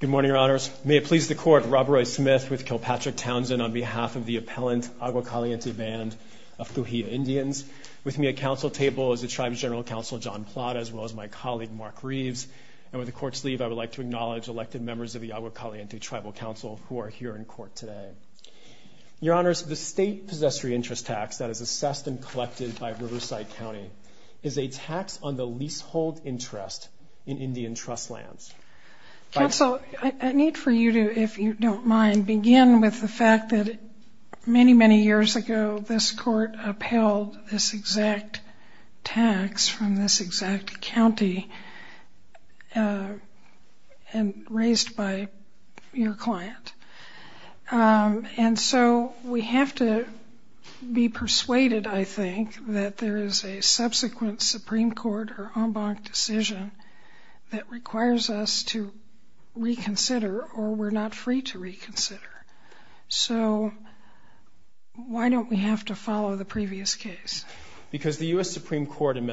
Good morning, Your Honors. May it please the Court, Rob Roy Smith with Kilpatrick Townsend on behalf of the appellant Agua Caliente Band of Cahuilla Indians. With me at council table is the Tribes General Counsel John Plata, as well as my colleague Mark Reeves. And with the Court's leave, I would like to acknowledge elected members of the Agua Caliente Tribal Council who are here in court today. Your Honors, the state possessory interest tax that is assessed and collected by Riverside County is a tax on the leasehold interest in Indian trust lands. Counsel, I need for you to, if you don't mind, begin with the fact that many, many years ago, this Court upheld this exact tax from this exact county and raised by your client. And so we have to be persuaded, I think, that there is a subsequent Supreme Court or en banc decision that requires us to reconsider or we're not free to reconsider. So why don't we have to follow the previous case? Because the U.S. repudiated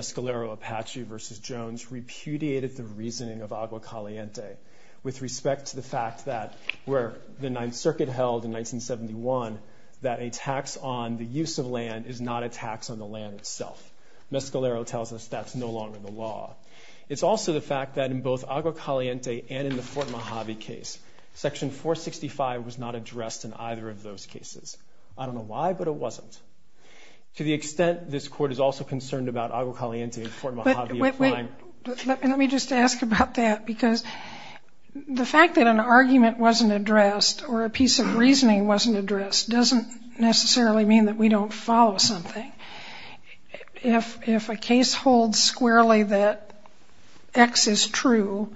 the reasoning of Agua Caliente with respect to the fact that where the Ninth Circuit held in 1971 that a tax on the use of land is not a tax on the land itself. Mescalero tells us that's no longer the law. It's also the fact that in both Agua Caliente and in the Fort Mojave case, Section 465 was not addressed in either of those cases. I don't know why, but it wasn't. To the extent this Court is also concerned about Agua Caliente and Fort Mojave. Let me just ask about that because the fact that an argument wasn't addressed or a piece of reasoning wasn't addressed doesn't necessarily mean that we don't follow something. If a case holds squarely that X is true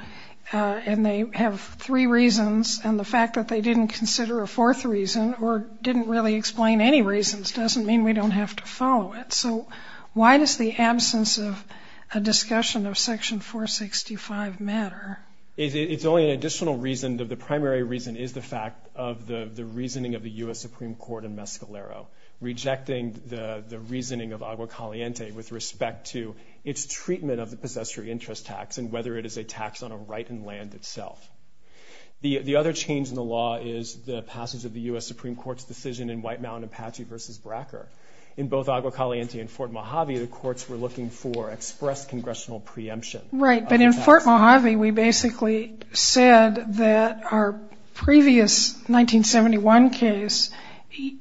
and they have three reasons and the fact that they didn't consider a fourth reason or didn't really explain any reasons doesn't mean we don't have to follow it. So why does the absence of a discussion of Section 465 matter? It's only an additional reason. The primary reason is the fact of the reasoning of the U.S. Supreme Court in Mescalero, rejecting the reasoning of Agua Caliente with respect to its treatment of the possessory interest tax and whether it is a tax on a right in land itself. The other change in the law is the passage of the U.S. Supreme Court's decision in White In both Agua Caliente and Fort Mojave, the courts were looking for express congressional preemption. Right. But in Fort Mojave, we basically said that our previous 1971 case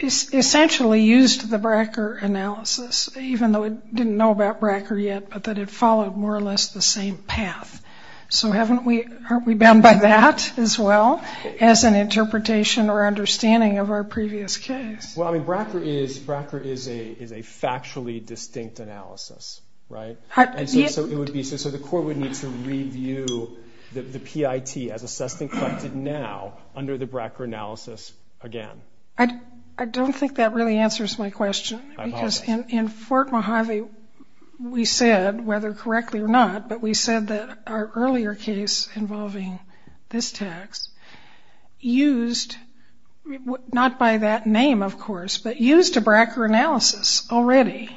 essentially used the Bracker analysis, even though it didn't know about Bracker yet, but that it followed more or less the same path. So haven't we, aren't we bound by that as well as an interpretation or understanding of our previous case? Well, I mean, Bracker is, Bracker is a, is a factually distinct analysis, right? So it would be, so the court would need to review the PIT as assessed and collected now under the Bracker analysis again. I don't think that really answers my question because in Fort Mojave, we said, whether correctly or not, but we said that our earlier case involving this tax used, not by that name of course, but used a Bracker analysis already.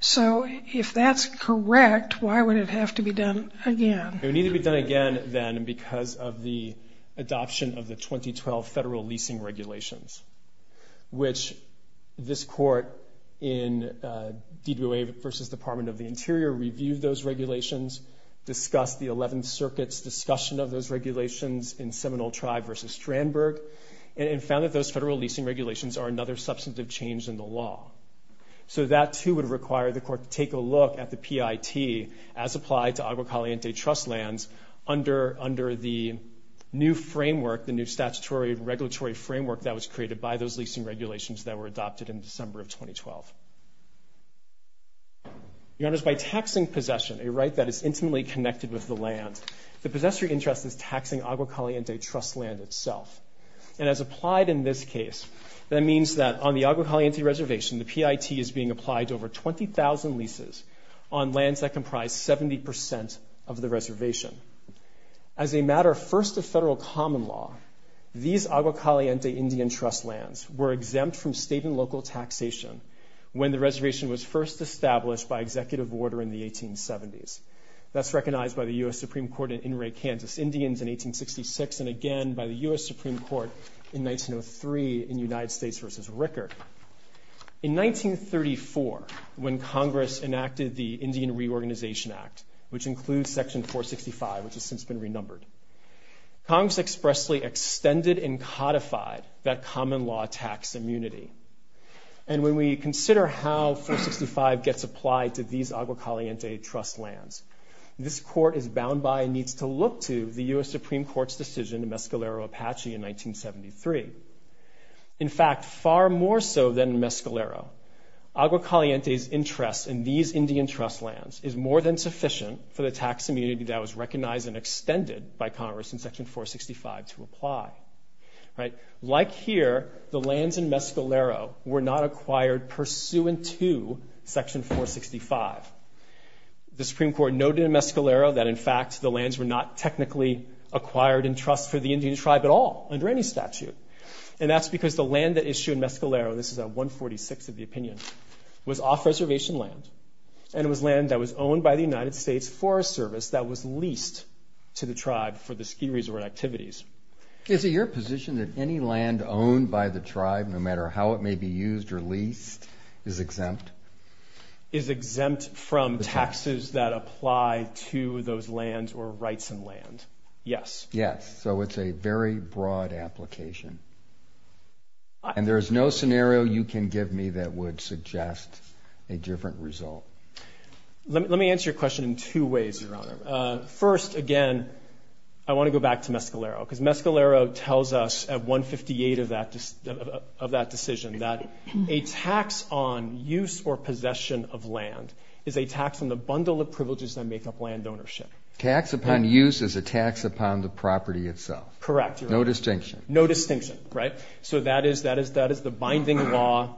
So if that's correct, why would it have to be done again? It would need to be done again then because of the adoption of the 2012 federal leasing regulations, which this court in DWA versus Department of the Interior reviewed those regulations, discussed the 11th Circuit's discussion of those regulations in Seminole Tribe versus Strandberg, and found that those federal leasing regulations are another substantive change in the law. So that too would require the court to take a look at the PIT as applied to Agua Caliente trust lands under, under the new framework, the new statutory regulatory framework that was created by those leasing regulations that were adopted in December of 2012. Your Honors, by taxing possession, a right that is intimately connected with the land, the possessory interest is taxing Agua Caliente trust land itself. And as applied in this case, that means that on the Agua Caliente reservation, the PIT is being applied to over 20,000 leases on lands that comprise 70% of the reservation. As a matter first of federal common law, these Agua Caliente Indian trust lands were exempt from state and local taxation when the reservation was first established by executive order in the 1870s. That's recognized by the U.S. Supreme Court in Inouye, Kansas Indians in 1866, and again by the U.S. Supreme Court in 1903 in United States versus Ricker. In 1934, when Congress enacted the Indian Reorganization Act, which includes Section 465, which has And when we consider how 465 gets applied to these Agua Caliente trust lands, this court is bound by and needs to look to the U.S. Supreme Court's decision in Mescalero, Apache in 1973. In fact, far more so than Mescalero, Agua Caliente's interest in these Indian trust lands is more than sufficient for the tax immunity that was recognized and extended by Congress in Section 465 to apply. Like here, the lands in Mescalero were not acquired pursuant to Section 465. The Supreme Court noted in Mescalero that, in fact, the lands were not technically acquired in trust for the Indian tribe at all under any statute, and that's because the land that issued Mescalero, this is at 146 of the opinion, was off-reservation land, and it was land that was owned by the United States Forest Service that was leased to the tribe for the ski resort activities. Is it your position that any land owned by the tribe, no matter how it may be used or leased, is exempt? Is exempt from taxes that apply to those lands or rights and land? Yes. Yes. So it's a very broad application. And there is no scenario you can give me that would suggest a different result. Let me answer your question in two ways, Your Honor. First, again, I want to go back to Mescalero, because Mescalero tells us at 158 of that decision that a tax on use or possession of land is a tax on the bundle of privileges that make up land ownership. Tax upon use is a tax upon the property itself. Correct, Your Honor. No distinction. No distinction, right? So that is the binding law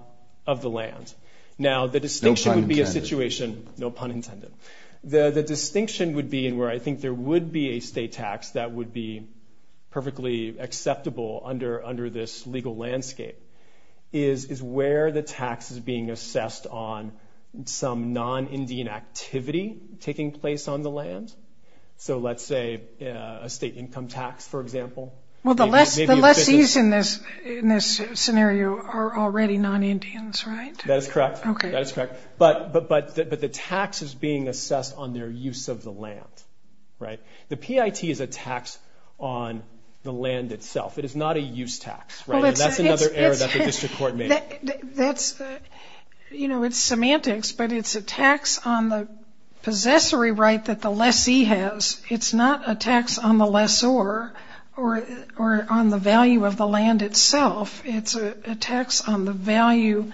of the land. Now, the distinction would be a situation, no pun intended. The distinction would be, and where I think there would be a state tax that would be perfectly acceptable under this legal landscape, is where the tax is being assessed on some non-Indian activity taking place on the land. So let's say a state income tax, for example. Well, the lessees in this scenario are already non-Indians, right? That is correct. But the tax is being assessed on their use of the land, right? The PIT is a tax on the land itself. It is not a use tax, right? And that's another error that the district court made. You know, it's semantics, but it's a tax on the possessory right that the lessee has. It's not a tax on the lessor or on the value of the land itself. It's a tax on the value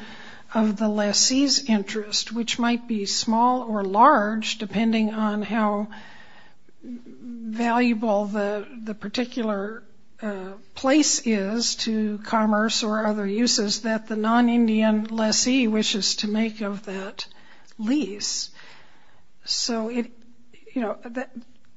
of the lessee's interest, which might be small or large depending on how valuable the particular place is to commerce or other uses that the non-Indian lessee wishes to make of that lease. So it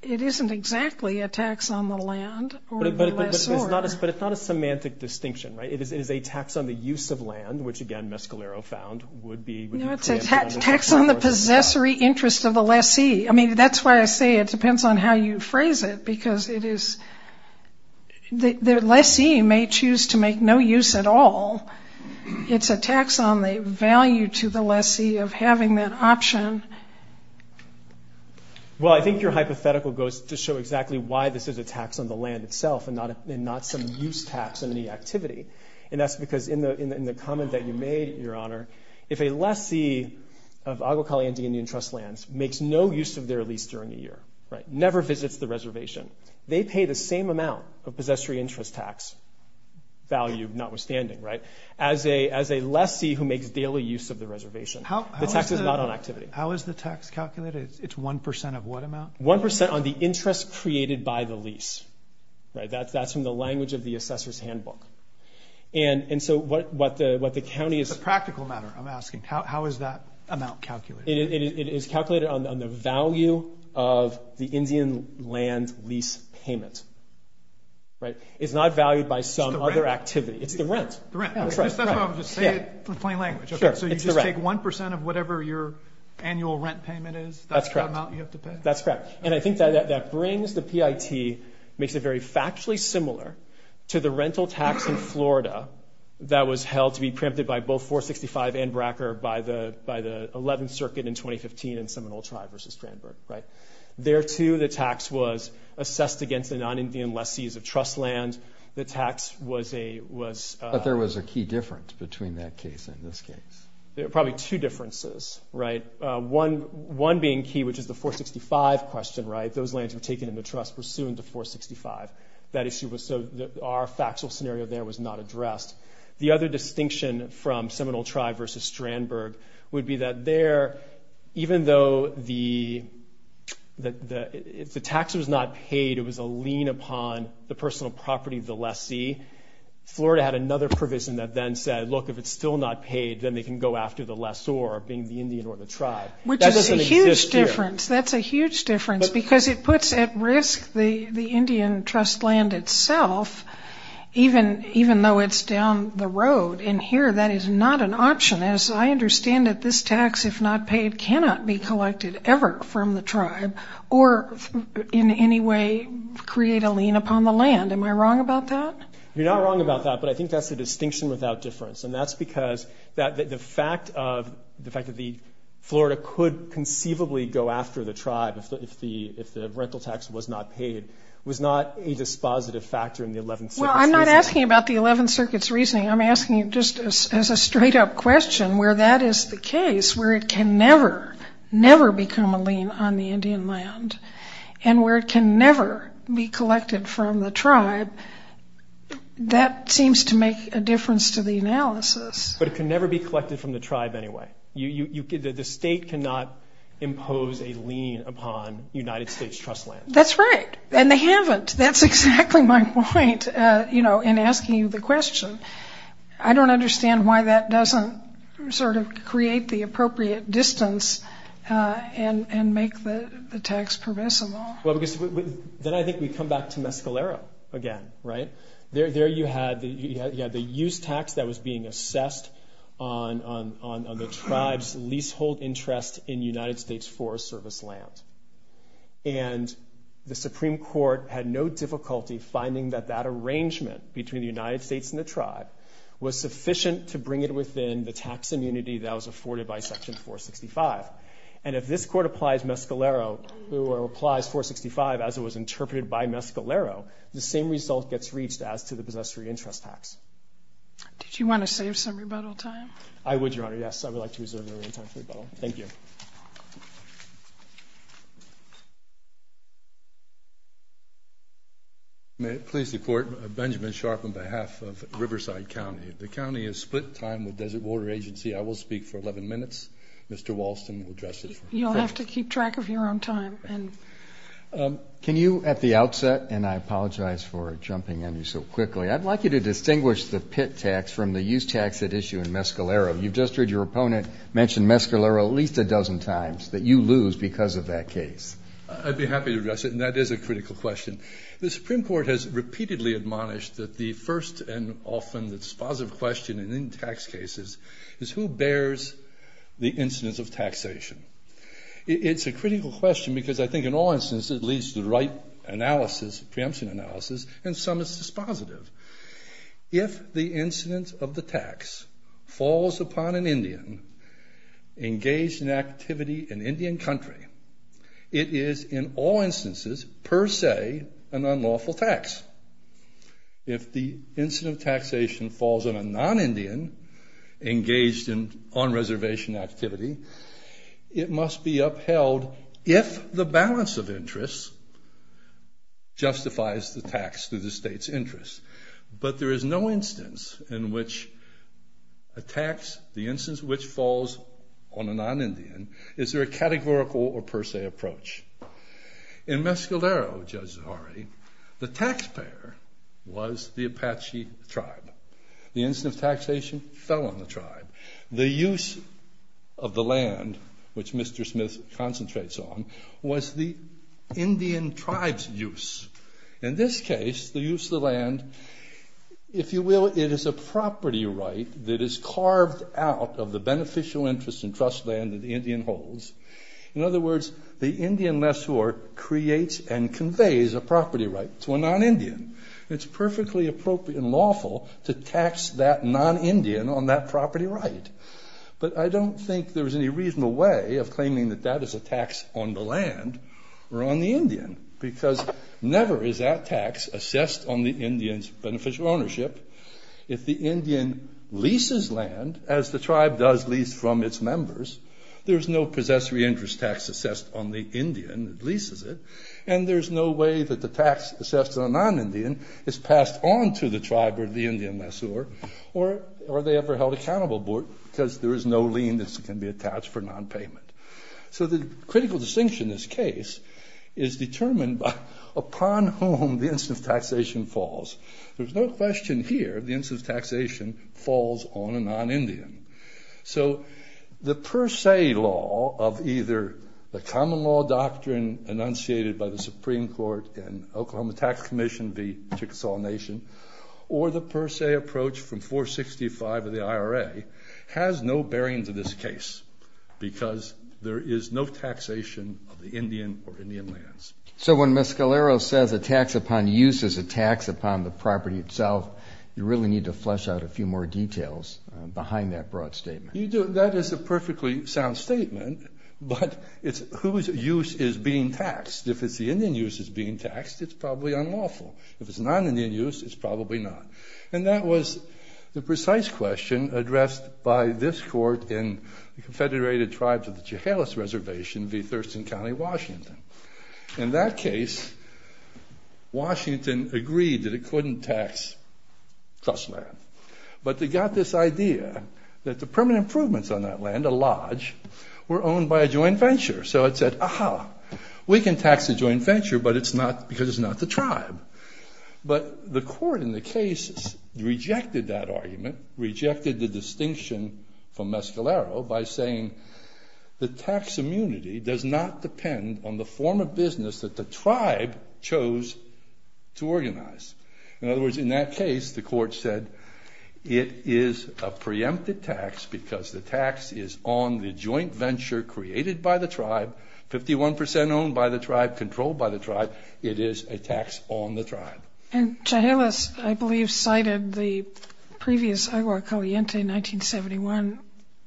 isn't exactly a tax on the land or the lessor. But it's not a semantic distinction, right? It is a tax on the use of land, which again Mescalero found would be preempted on the part of the lessee. No, it's a tax on the possessory interest of the lessee. I mean, that's why I say it depends on how you phrase it, because the lessee may choose to make no use at all. It's a tax on the value to the lessee of having that option. Well, I think your hypothetical goes to show exactly why this is a tax on the land itself and not some use tax on any activity. And that's because in the comment that you made, Your Honor, if a lessee of Agua Caliente Indian Trust Lands makes no use of their lease during a year, never visits the reservation, they pay the same amount of possessory interest tax value, notwithstanding, as a lessee who makes daily use of the reservation. The tax is not on activity. How is the tax calculated? It's one percent of what amount? One percent on the interest created by the lease. That's from the language of the Assessor's Handbook. And so what the county is... It's a practical matter, I'm asking. How is that amount calculated? It is calculated on the value of the Indian land lease payment. It's not valued by some other activity. It's the rent. The rent. That's why I'm just saying it in plain language. So you just take one percent of whatever your annual rent payment is, that's the amount you have to pay? That's correct. And I think that brings the PIT, makes it very factually similar to the rental tax in Florida that was held to be preempted by both 465 and Bracker by the 11th Circuit in 2015 in Seminole Tribe versus Strandberg, right? There too, the tax was assessed against a non-Indian lessee as a trust land. The tax was a... But there was a key difference between that case and this case. Probably two differences, right? One being key, which is the 465 question, right? Those lands were taken into trust pursuant to 465. That issue was so... Our factual scenario there was not addressed. The other distinction from Seminole Tribe versus Strandberg would be that there, even though the... If the tax was not paid, it was a lien upon the personal property of the lessee. Florida had another provision that then said, look, if it's still not paid, then they can go after the lessor, being the Indian or the tribe. That doesn't exist here. That's a huge difference because it puts at risk the Indian trust land itself, even though it's down the road. And here, that is not an option. As I understand it, this tax, if not paid, cannot be collected ever from the tribe or in any way create a lien upon the land. Am I wrong about that? You're not wrong about that, but I think that's the distinction without difference. And that's because the fact that Florida could conceivably go after the tribe if the rental tax was not paid was not a dispositive factor in the 11th Circuit's reasoning. Well, I'm not asking about the 11th Circuit's reasoning. I'm asking just as a straight-up question where that is the case, where it can never, never become a lien on the Indian land, and where it can never be collected from the tribe. That seems to make a difference to the analysis. But it can never be collected from the tribe anyway. The state cannot impose a lien upon United States trust land. That's right. And they haven't. That's exactly my point in asking you the question. I don't understand why that doesn't sort of create the appropriate distance and make the tax permissible. Well, then I think we come back to Mescalero again, right? There you had the use tax that was being assessed on the tribe's leasehold interest in United States Forest Service land. And the Supreme Court had no difficulty finding that that arrangement between the United States and the tribe was sufficient to bring it within the tax immunity that was afforded by Section 465. And if this Court applies Mescalero, or applies 465 as it was interpreted by Mescalero, the same result gets reached as to the possessory interest tax. Did you want to save some rebuttal time? I would, Your Honor, yes. I would like to reserve the remaining time for rebuttal. Thank you. May it please the Court, Benjamin Sharp on behalf of Riverside County. The county is split time with Desert Water Agency. I will speak for 11 minutes. Mr. Walston will address it. You'll have to keep track of your own time. Can you, at the outset, and I apologize for jumping on you so quickly, I'd like you to distinguish the pit tax from the use tax at issue in Mescalero. You've just heard your opponent mention Mescalero at least a dozen times that you lose because of that case. I'd be happy to address it, and that is a critical question. The Supreme Court has repeatedly admonished that the first and often the dispositive question in Indian tax cases is who bears the incidence of taxation. It's a critical question because I think in all instances it leads to the right analysis, preemption analysis, and some it's dispositive. If the incidence of the tax falls upon an Indian engaged in activity in Indian country, it is in all instances per se an unlawful tax. If the incidence of taxation falls on a non-Indian engaged in on-reservation activity, it must be upheld if the balance of interest justifies the tax to the state's interest. But there is no instance in which a tax, the instance which falls on a non-Indian, is there a categorical or per se approach. In Mescalero, Judge Zaharie, the taxpayer was the Apache tribe. The incidence of taxation fell on the tribe. The use of the land, which Mr. Smith concentrates on, was the Indian tribe's use. In this case, it's the use of the land. If you will, it is a property right that is carved out of the beneficial interest and trust land that the Indian holds. In other words, the Indian lessor creates and conveys a property right to a non-Indian. It's perfectly appropriate and lawful to tax that non-Indian on that property right. But I don't think there's any reasonable way of claiming that that is a tax on the land or on the Indian because never is that tax assessed on the Indian's beneficial ownership. If the Indian leases land as the tribe does lease from its members, there's no possessory interest tax assessed on the Indian that leases it, and there's no way that the tax assessed on a non-Indian is passed on to the tribe or the Indian lessor, or are they ever held accountable because there is no lien that can be attached for non-payment. So the critical distinction in this case is determined by upon whom the instance of taxation falls. There's no question here the instance of taxation falls on a non-Indian. So the per se law of either the common law doctrine enunciated by the Supreme Court and Oklahoma Tax Commission v. Chickasaw Nation, or the per se approach from 465 of the IRA has no bearing to this case because there is no taxation of the Indian or Indian lands. So when Miscalero says a tax upon use is a tax upon the property itself, you really need to flesh out a few more details behind that broad statement. That is a perfectly sound statement, but it's whose use is being taxed. If it's the Indian use that's being taxed, it's probably unlawful. If it's non-Indian use, it's probably not. And that was the precise question addressed by this Court in the Confederated Tribes of Jehelas Reservation v. Thurston County, Washington. In that case, Washington agreed that it couldn't tax trust land, but they got this idea that the permanent improvements on that land, a lodge, were owned by a joint venture. So it said, aha, we can tax the joint venture, but it's not because it's not the tribe. But the Court in the case rejected that argument, rejected the distinction from Miscalero by saying, the tax immunity does not depend on the form of business that the tribe chose to organize. In other words, in that case, the Court said, it is a preempted tax because the tax is on the joint venture created by the tribe, 51% owned by the tribe, controlled by the tribe. It is a tax on the tribe. And Jehelas, I believe, cited the previous Aguacaliente 1971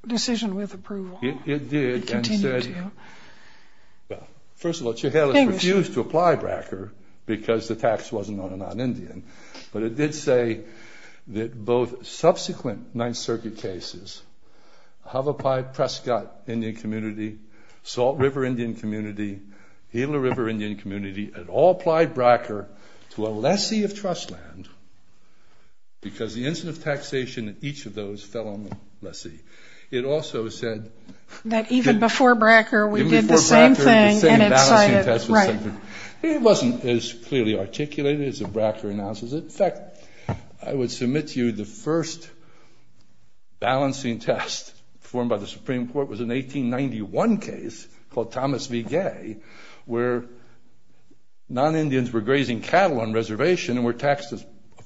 decision with approval. It did, and said, well, first of all, Jehelas refused to apply Bracker because the tax wasn't on a non-Indian. But it did say that both subsequent Ninth Circuit cases, Havapai Prescott Indian Community, Salt River Indian Community, Gila River Indian Community, had all applied lessee of trust land because the incident of taxation at each of those fell on the lessee. It also said that even before Bracker, we did the same thing, and it cited, right. It wasn't as clearly articulated as the Bracker analysis. In fact, I would submit to you the first balancing test formed by the Supreme Court was an 1891 case called Thomas v. Gay where non-Indians were grazing cattle on reservation and were taxed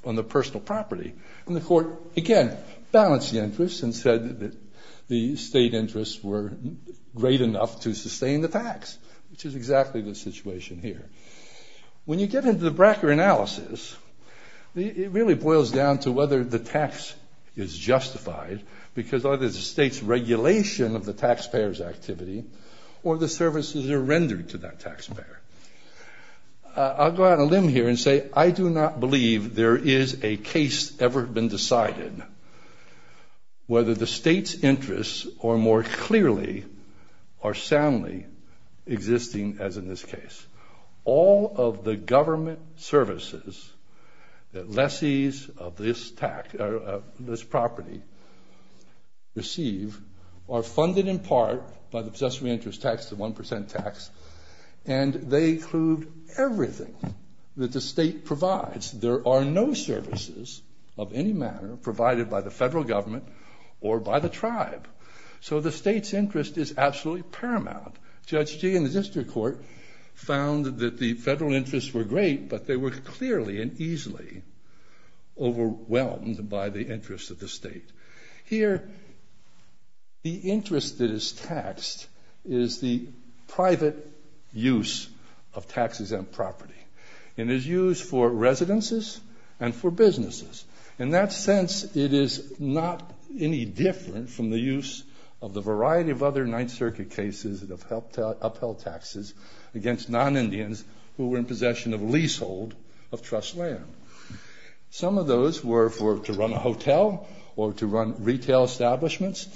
on the personal property. And the court, again, balanced the interest and said that the state interests were great enough to sustain the tax, which is exactly the situation here. When you get into the Bracker analysis, it really boils down to whether the tax is justified because either it's the state's regulation of the taxpayer's activity or the services are rendered to that taxpayer. I'll go out on a limb here and say I do not believe there is a case ever been decided whether the state's interests are more clearly or soundly existing as in this case. All of the government services that lessees of this property are subject to receive are funded in part by the Possessory Interest Tax, the 1% tax, and they include everything that the state provides. There are no services of any matter provided by the federal government or by the tribe. So the state's interest is absolutely paramount. Judge Gee in the district court found that the federal interests were great, but they were clearly and easily overwhelmed by the interests of the state. Here, the interest that is taxed is the private use of tax-exempt property. It is used for residences and for businesses. In that sense, it is not any different from the use of the variety of other Ninth District of trust land. Some of those were to run a hotel or to run retail establishments,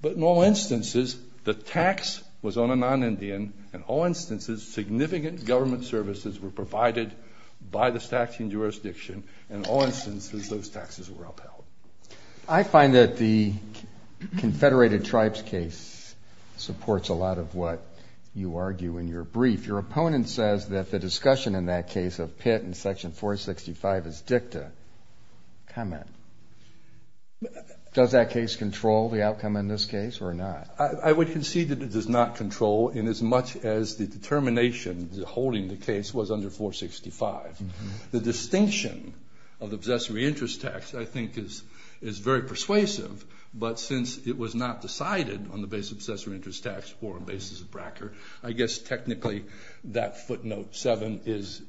but in all instances, the tax was on a non-Indian. In all instances, significant government services were provided by the statute and jurisdiction. In all instances, those taxes were upheld. I find that the Confederated Tribes case supports a lot of what you argue in your brief. Your argument in section 465 is dicta. Comment. Does that case control the outcome in this case or not? I would concede that it does not control in as much as the determination holding the case was under 465. The distinction of the Possessory Interest Tax, I think, is very persuasive, but since it was not decided on the basis of Possessory Interest Tax or on the basis of Bracker, I guess, technically, that footnote 7 is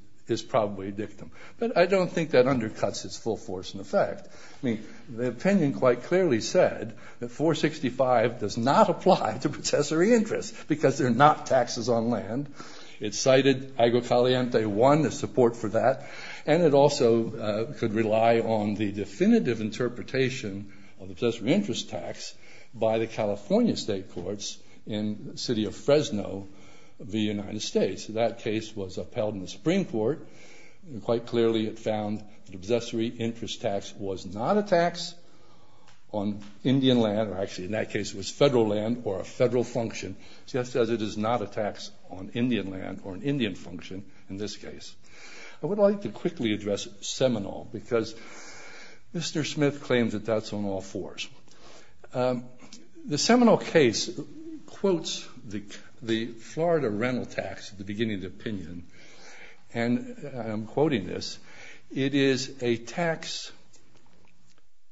probably dictum. But I don't think that undercuts its full force and effect. I mean, the opinion quite clearly said that 465 does not apply to Possessory Interest because they're not taxes on land. It cited Agua Caliente 1 as support for that, and it also could rely on the definitive interpretation of the Possessory Interest Tax by the California State Courts in the city of Fresno, the United States. That case was upheld in the Supreme Court, and quite clearly, it found that Possessory Interest Tax was not a tax on Indian land. Actually, in that case, it was federal land or a federal function, just as it is not a tax on Indian land or an Indian function in this case. I would like to quickly address Seminole because Mr. Smith claims that that's on all fours. The Seminole case quotes the Florida rental tax at the beginning of the opinion, and I'm quoting this, it is a tax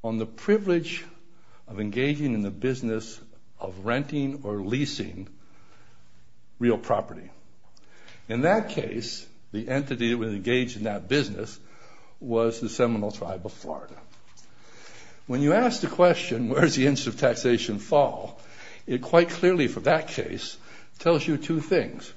on the privilege of engaging in the business of renting or leasing real property. In that case, the entity that was engaged in that business was the Seminole Tribe of Florida. When you ask the question, where does the interest of taxation fall? It quite clearly, for that case, tells you two things.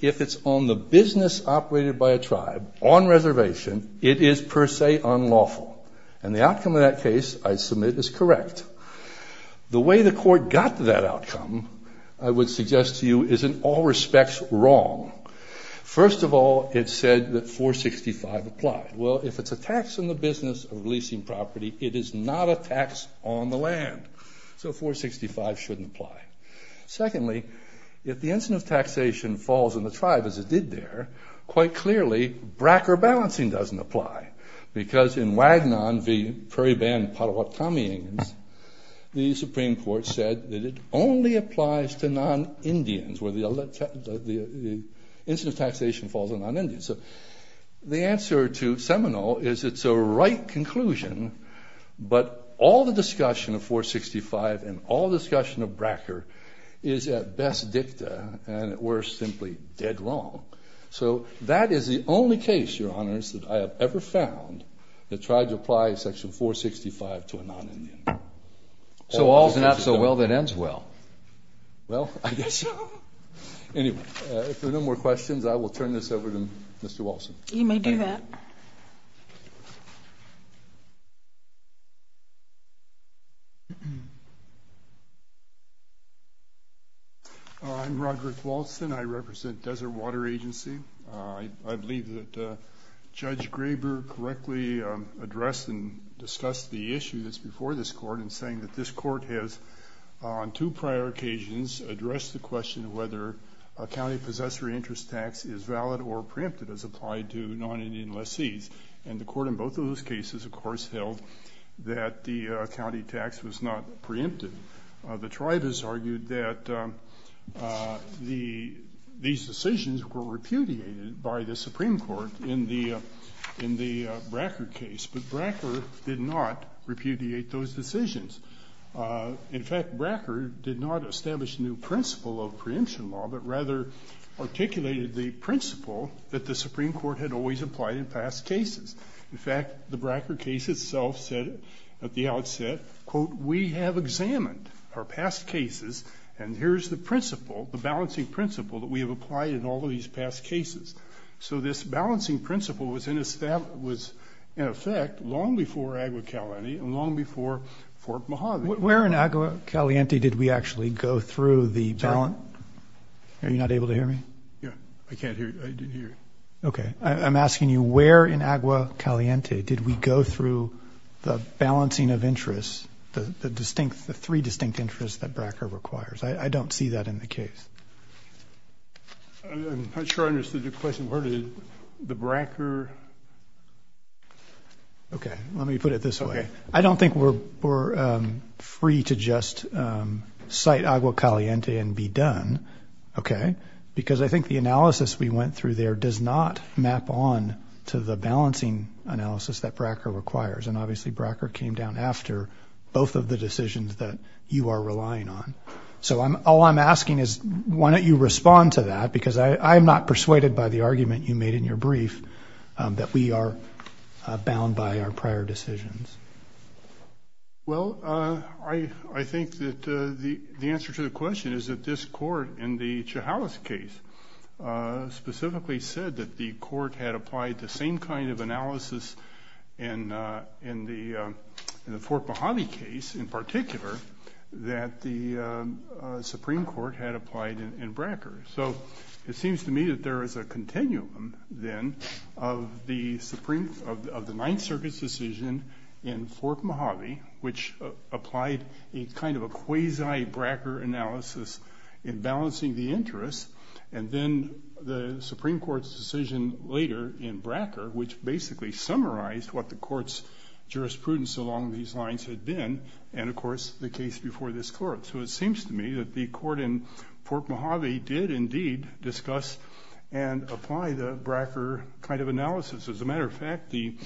If it's on the business operated by a tribe on reservation, it is per se unlawful, and the outcome of that case, I submit, is correct. The way the court got to that outcome, I would suggest to you, is in all respects, wrong. First of all, it said that 465 applied. Well, if it's a tax on the business of leasing property, it is not a tax on the land, so 465 shouldn't apply. Secondly, if the incident of taxation falls in the tribe, as it did there, quite in Wagnon v. Prairie Band Potawatomi Indians, the Supreme Court said that it only applies to non-Indians, where the incident of taxation falls on non-Indians. The answer to Seminole is it's a right conclusion, but all the discussion of 465 and all the discussion of Bracker is at best dicta, and at worst, simply dead wrong. That is the only case, your honors, that I tried to apply section 465 to a non-Indian. So all's not so well that ends well. Well, I guess so. Anyway, if there are no more questions, I will turn this over to Mr. Walson. You may do that. I'm Roderick Walson. I represent Desert Water Agency. I believe that Judge Graber correctly addressed and discussed the issue that's before this Court in saying that this Court has, on two prior occasions, addressed the question of whether a county possessor interest tax is valid or preempted as applied to non-Indian lessees. And the Court in both of those cases, of course, held that the county tax was not preempted. The tribe has argued that these decisions were repudiated by the Supreme Court in the case of Wagnon v. Prairie in the Bracker case, but Bracker did not repudiate those decisions. In fact, Bracker did not establish a new principle of preemption law, but rather articulated the principle that the Supreme Court had always applied in past cases. In fact, the Bracker case itself said at the outset, quote, we have examined our past cases, and here's the principle, the balancing principle, that we have applied in all of these past cases. So this balancing principle was in effect long before Agua Caliente and long before Fort Mahoney. Where in Agua Caliente did we actually go through the balance? Sorry? Are you not able to hear me? Yes. I can't hear you. I didn't hear you. Okay. I'm asking you where in Agua Caliente did we go through the balancing of interests, the distinct, the three distinct interests that Bracker requires? I don't see that in the case. I'm not sure I understood your question. Where did the Bracker? Okay. Let me put it this way. I don't think we're free to just cite Agua Caliente and be done, okay? Because I think the analysis we went through there does not map on to the balancing analysis that Bracker requires, and obviously Bracker came down after both of the decisions that you are relying on. So all I'm asking is, why don't you respond to that? Because I'm not persuaded by the argument you made in your brief that we are bound by our prior decisions. Well, I think that the answer to the question is that this court in the Chihalas case specifically said that the court had applied the same kind of analysis in the Fort Mojave case in particular that the Supreme Court had applied in Bracker. So it seems to me that there is a continuum then of the Ninth Circuit's decision in Fort Mojave, which applied a kind of a quasi-Bracker analysis in balancing the interest, and then the Supreme Court's decision later in Bracker, which basically summarized what the court's jurisprudence along these lines had been, and of course the case before this court. So it seems to me that the court in Fort Mojave did indeed discuss and apply the Bracker kind of analysis. As a matter of fact, the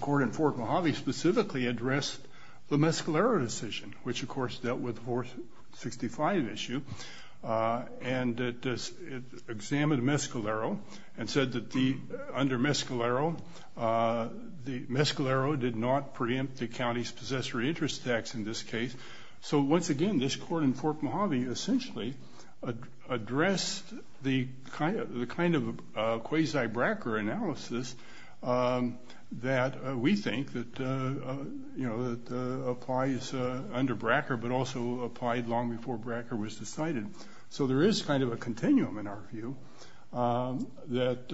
court in Fort Mojave specifically addressed the Mescalero decision, which of course dealt with the 465 issue, and it examined Mescalero and said that under Mescalero, Mescalero did not preempt the county's possessory interest tax in this case. So once again, this court in Fort Mojave essentially addressed the kind of quasi-Bracker analysis that we think is that applies under Bracker, but also applied long before Bracker was decided. So there is kind of a continuum in our view that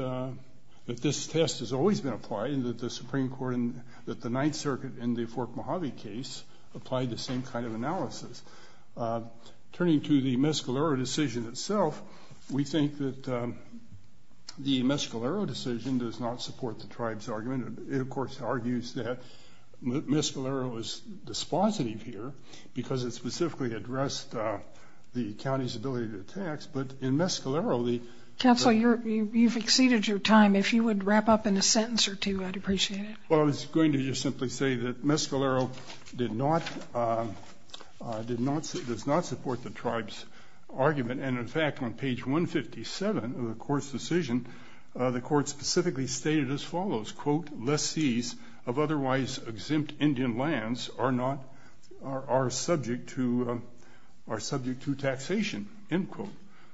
this test has always been applied, and that the Supreme Court and that the Ninth Circuit in the Fort Mojave case applied the same kind of analysis. Turning to the Mescalero decision itself, we think that the Mescalero decision does not support the tribe's argument. It of course argues that Mescalero is dispositive here because it specifically addressed the county's ability to tax, but in Mescalero the... Counsel, you've exceeded your time. If you would wrap up in a sentence or two, I'd appreciate it. Well, I was going to just simply say that Mescalero does not support the tribe's argument, and in fact on page 157 of the court's decision, the court specifically stated as follows, quote, less seas of otherwise exempt Indian lands are not, are subject to, are subject to taxation, end quote.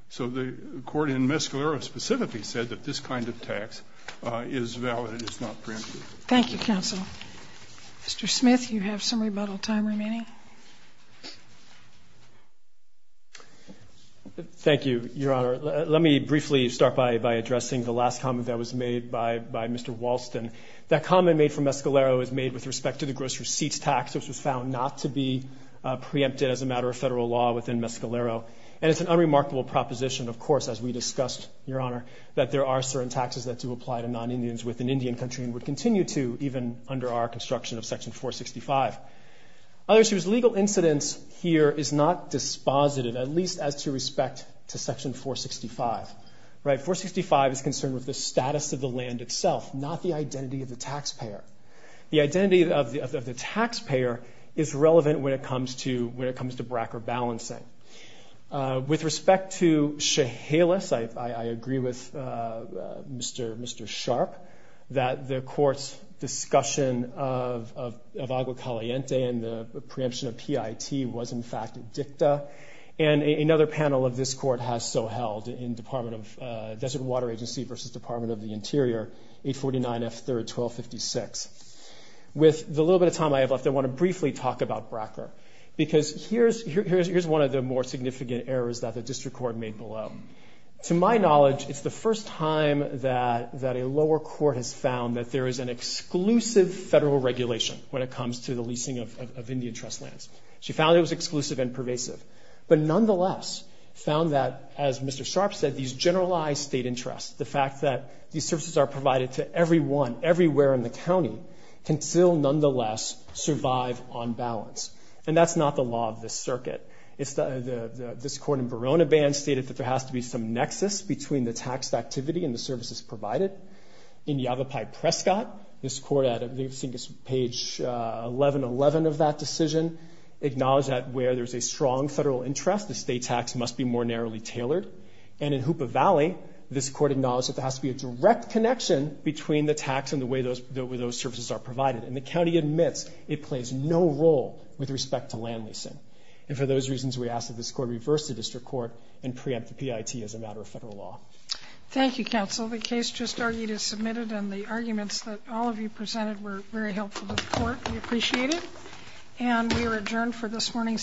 So the court in Mescalero specifically said that this kind of tax is valid and is not preempted. Thank you, Counsel. Mr. Smith, you have some Thank you, Your Honor. Let me briefly start by addressing the last comment that was made by Mr. Walston. That comment made from Mescalero is made with respect to the gross receipts tax, which was found not to be preempted as a matter of federal law within Mescalero, and it's an unremarkable proposition, of course, as we discussed, Your Honor, that there are certain taxes that do apply to non-Indians within Indian country and would continue to even under our construction of section 465. The legal incidence here is not dispositive, at least as to respect to section 465, right? 465 is concerned with the status of the land itself, not the identity of the taxpayer. The identity of the taxpayer is relevant when it comes to, when it comes to BRCA balancing. With respect to Chehalis, I agree with Mr. Sharp that the court's discussion of Agua Caliente and the preemption of PIT was in the dicta, and another panel of this court has so held in Department of, Desert Water Agency versus Department of the Interior, 849 F. 3rd, 1256. With the little bit of time I have left, I want to briefly talk about BRCA, because here's one of the more significant errors that the district court made below. To my knowledge, it's the first time that a lower court has found that there is an exclusive federal regulation when it comes to the leasing of Indian trust lands. She found it was exclusive and pervasive, but nonetheless found that, as Mr. Sharp said, these generalized state interests, the fact that these services are provided to everyone, everywhere in the county, can still nonetheless survive on balance. And that's not the law of this circuit. This court in Verona band stated that there has to be some nexus between the taxed activity and the services provided. In Yavapai Prescott, this court, I think it's page 1111 of that decision, acknowledged that where there's a strong federal interest, the state tax must be more narrowly tailored. And in Hoopa Valley, this court acknowledged that there has to be a direct connection between the tax and the way those services are provided. And the county admits it plays no role with respect to land leasing. And for those reasons, we ask that this court reverse the district court and preempt the PIT as a matter of federal law. Thank you, counsel. The case just argued is submitted and the arguments that all of you presented were very helpful to the court. We appreciate it. And we are adjourned for this morning's session.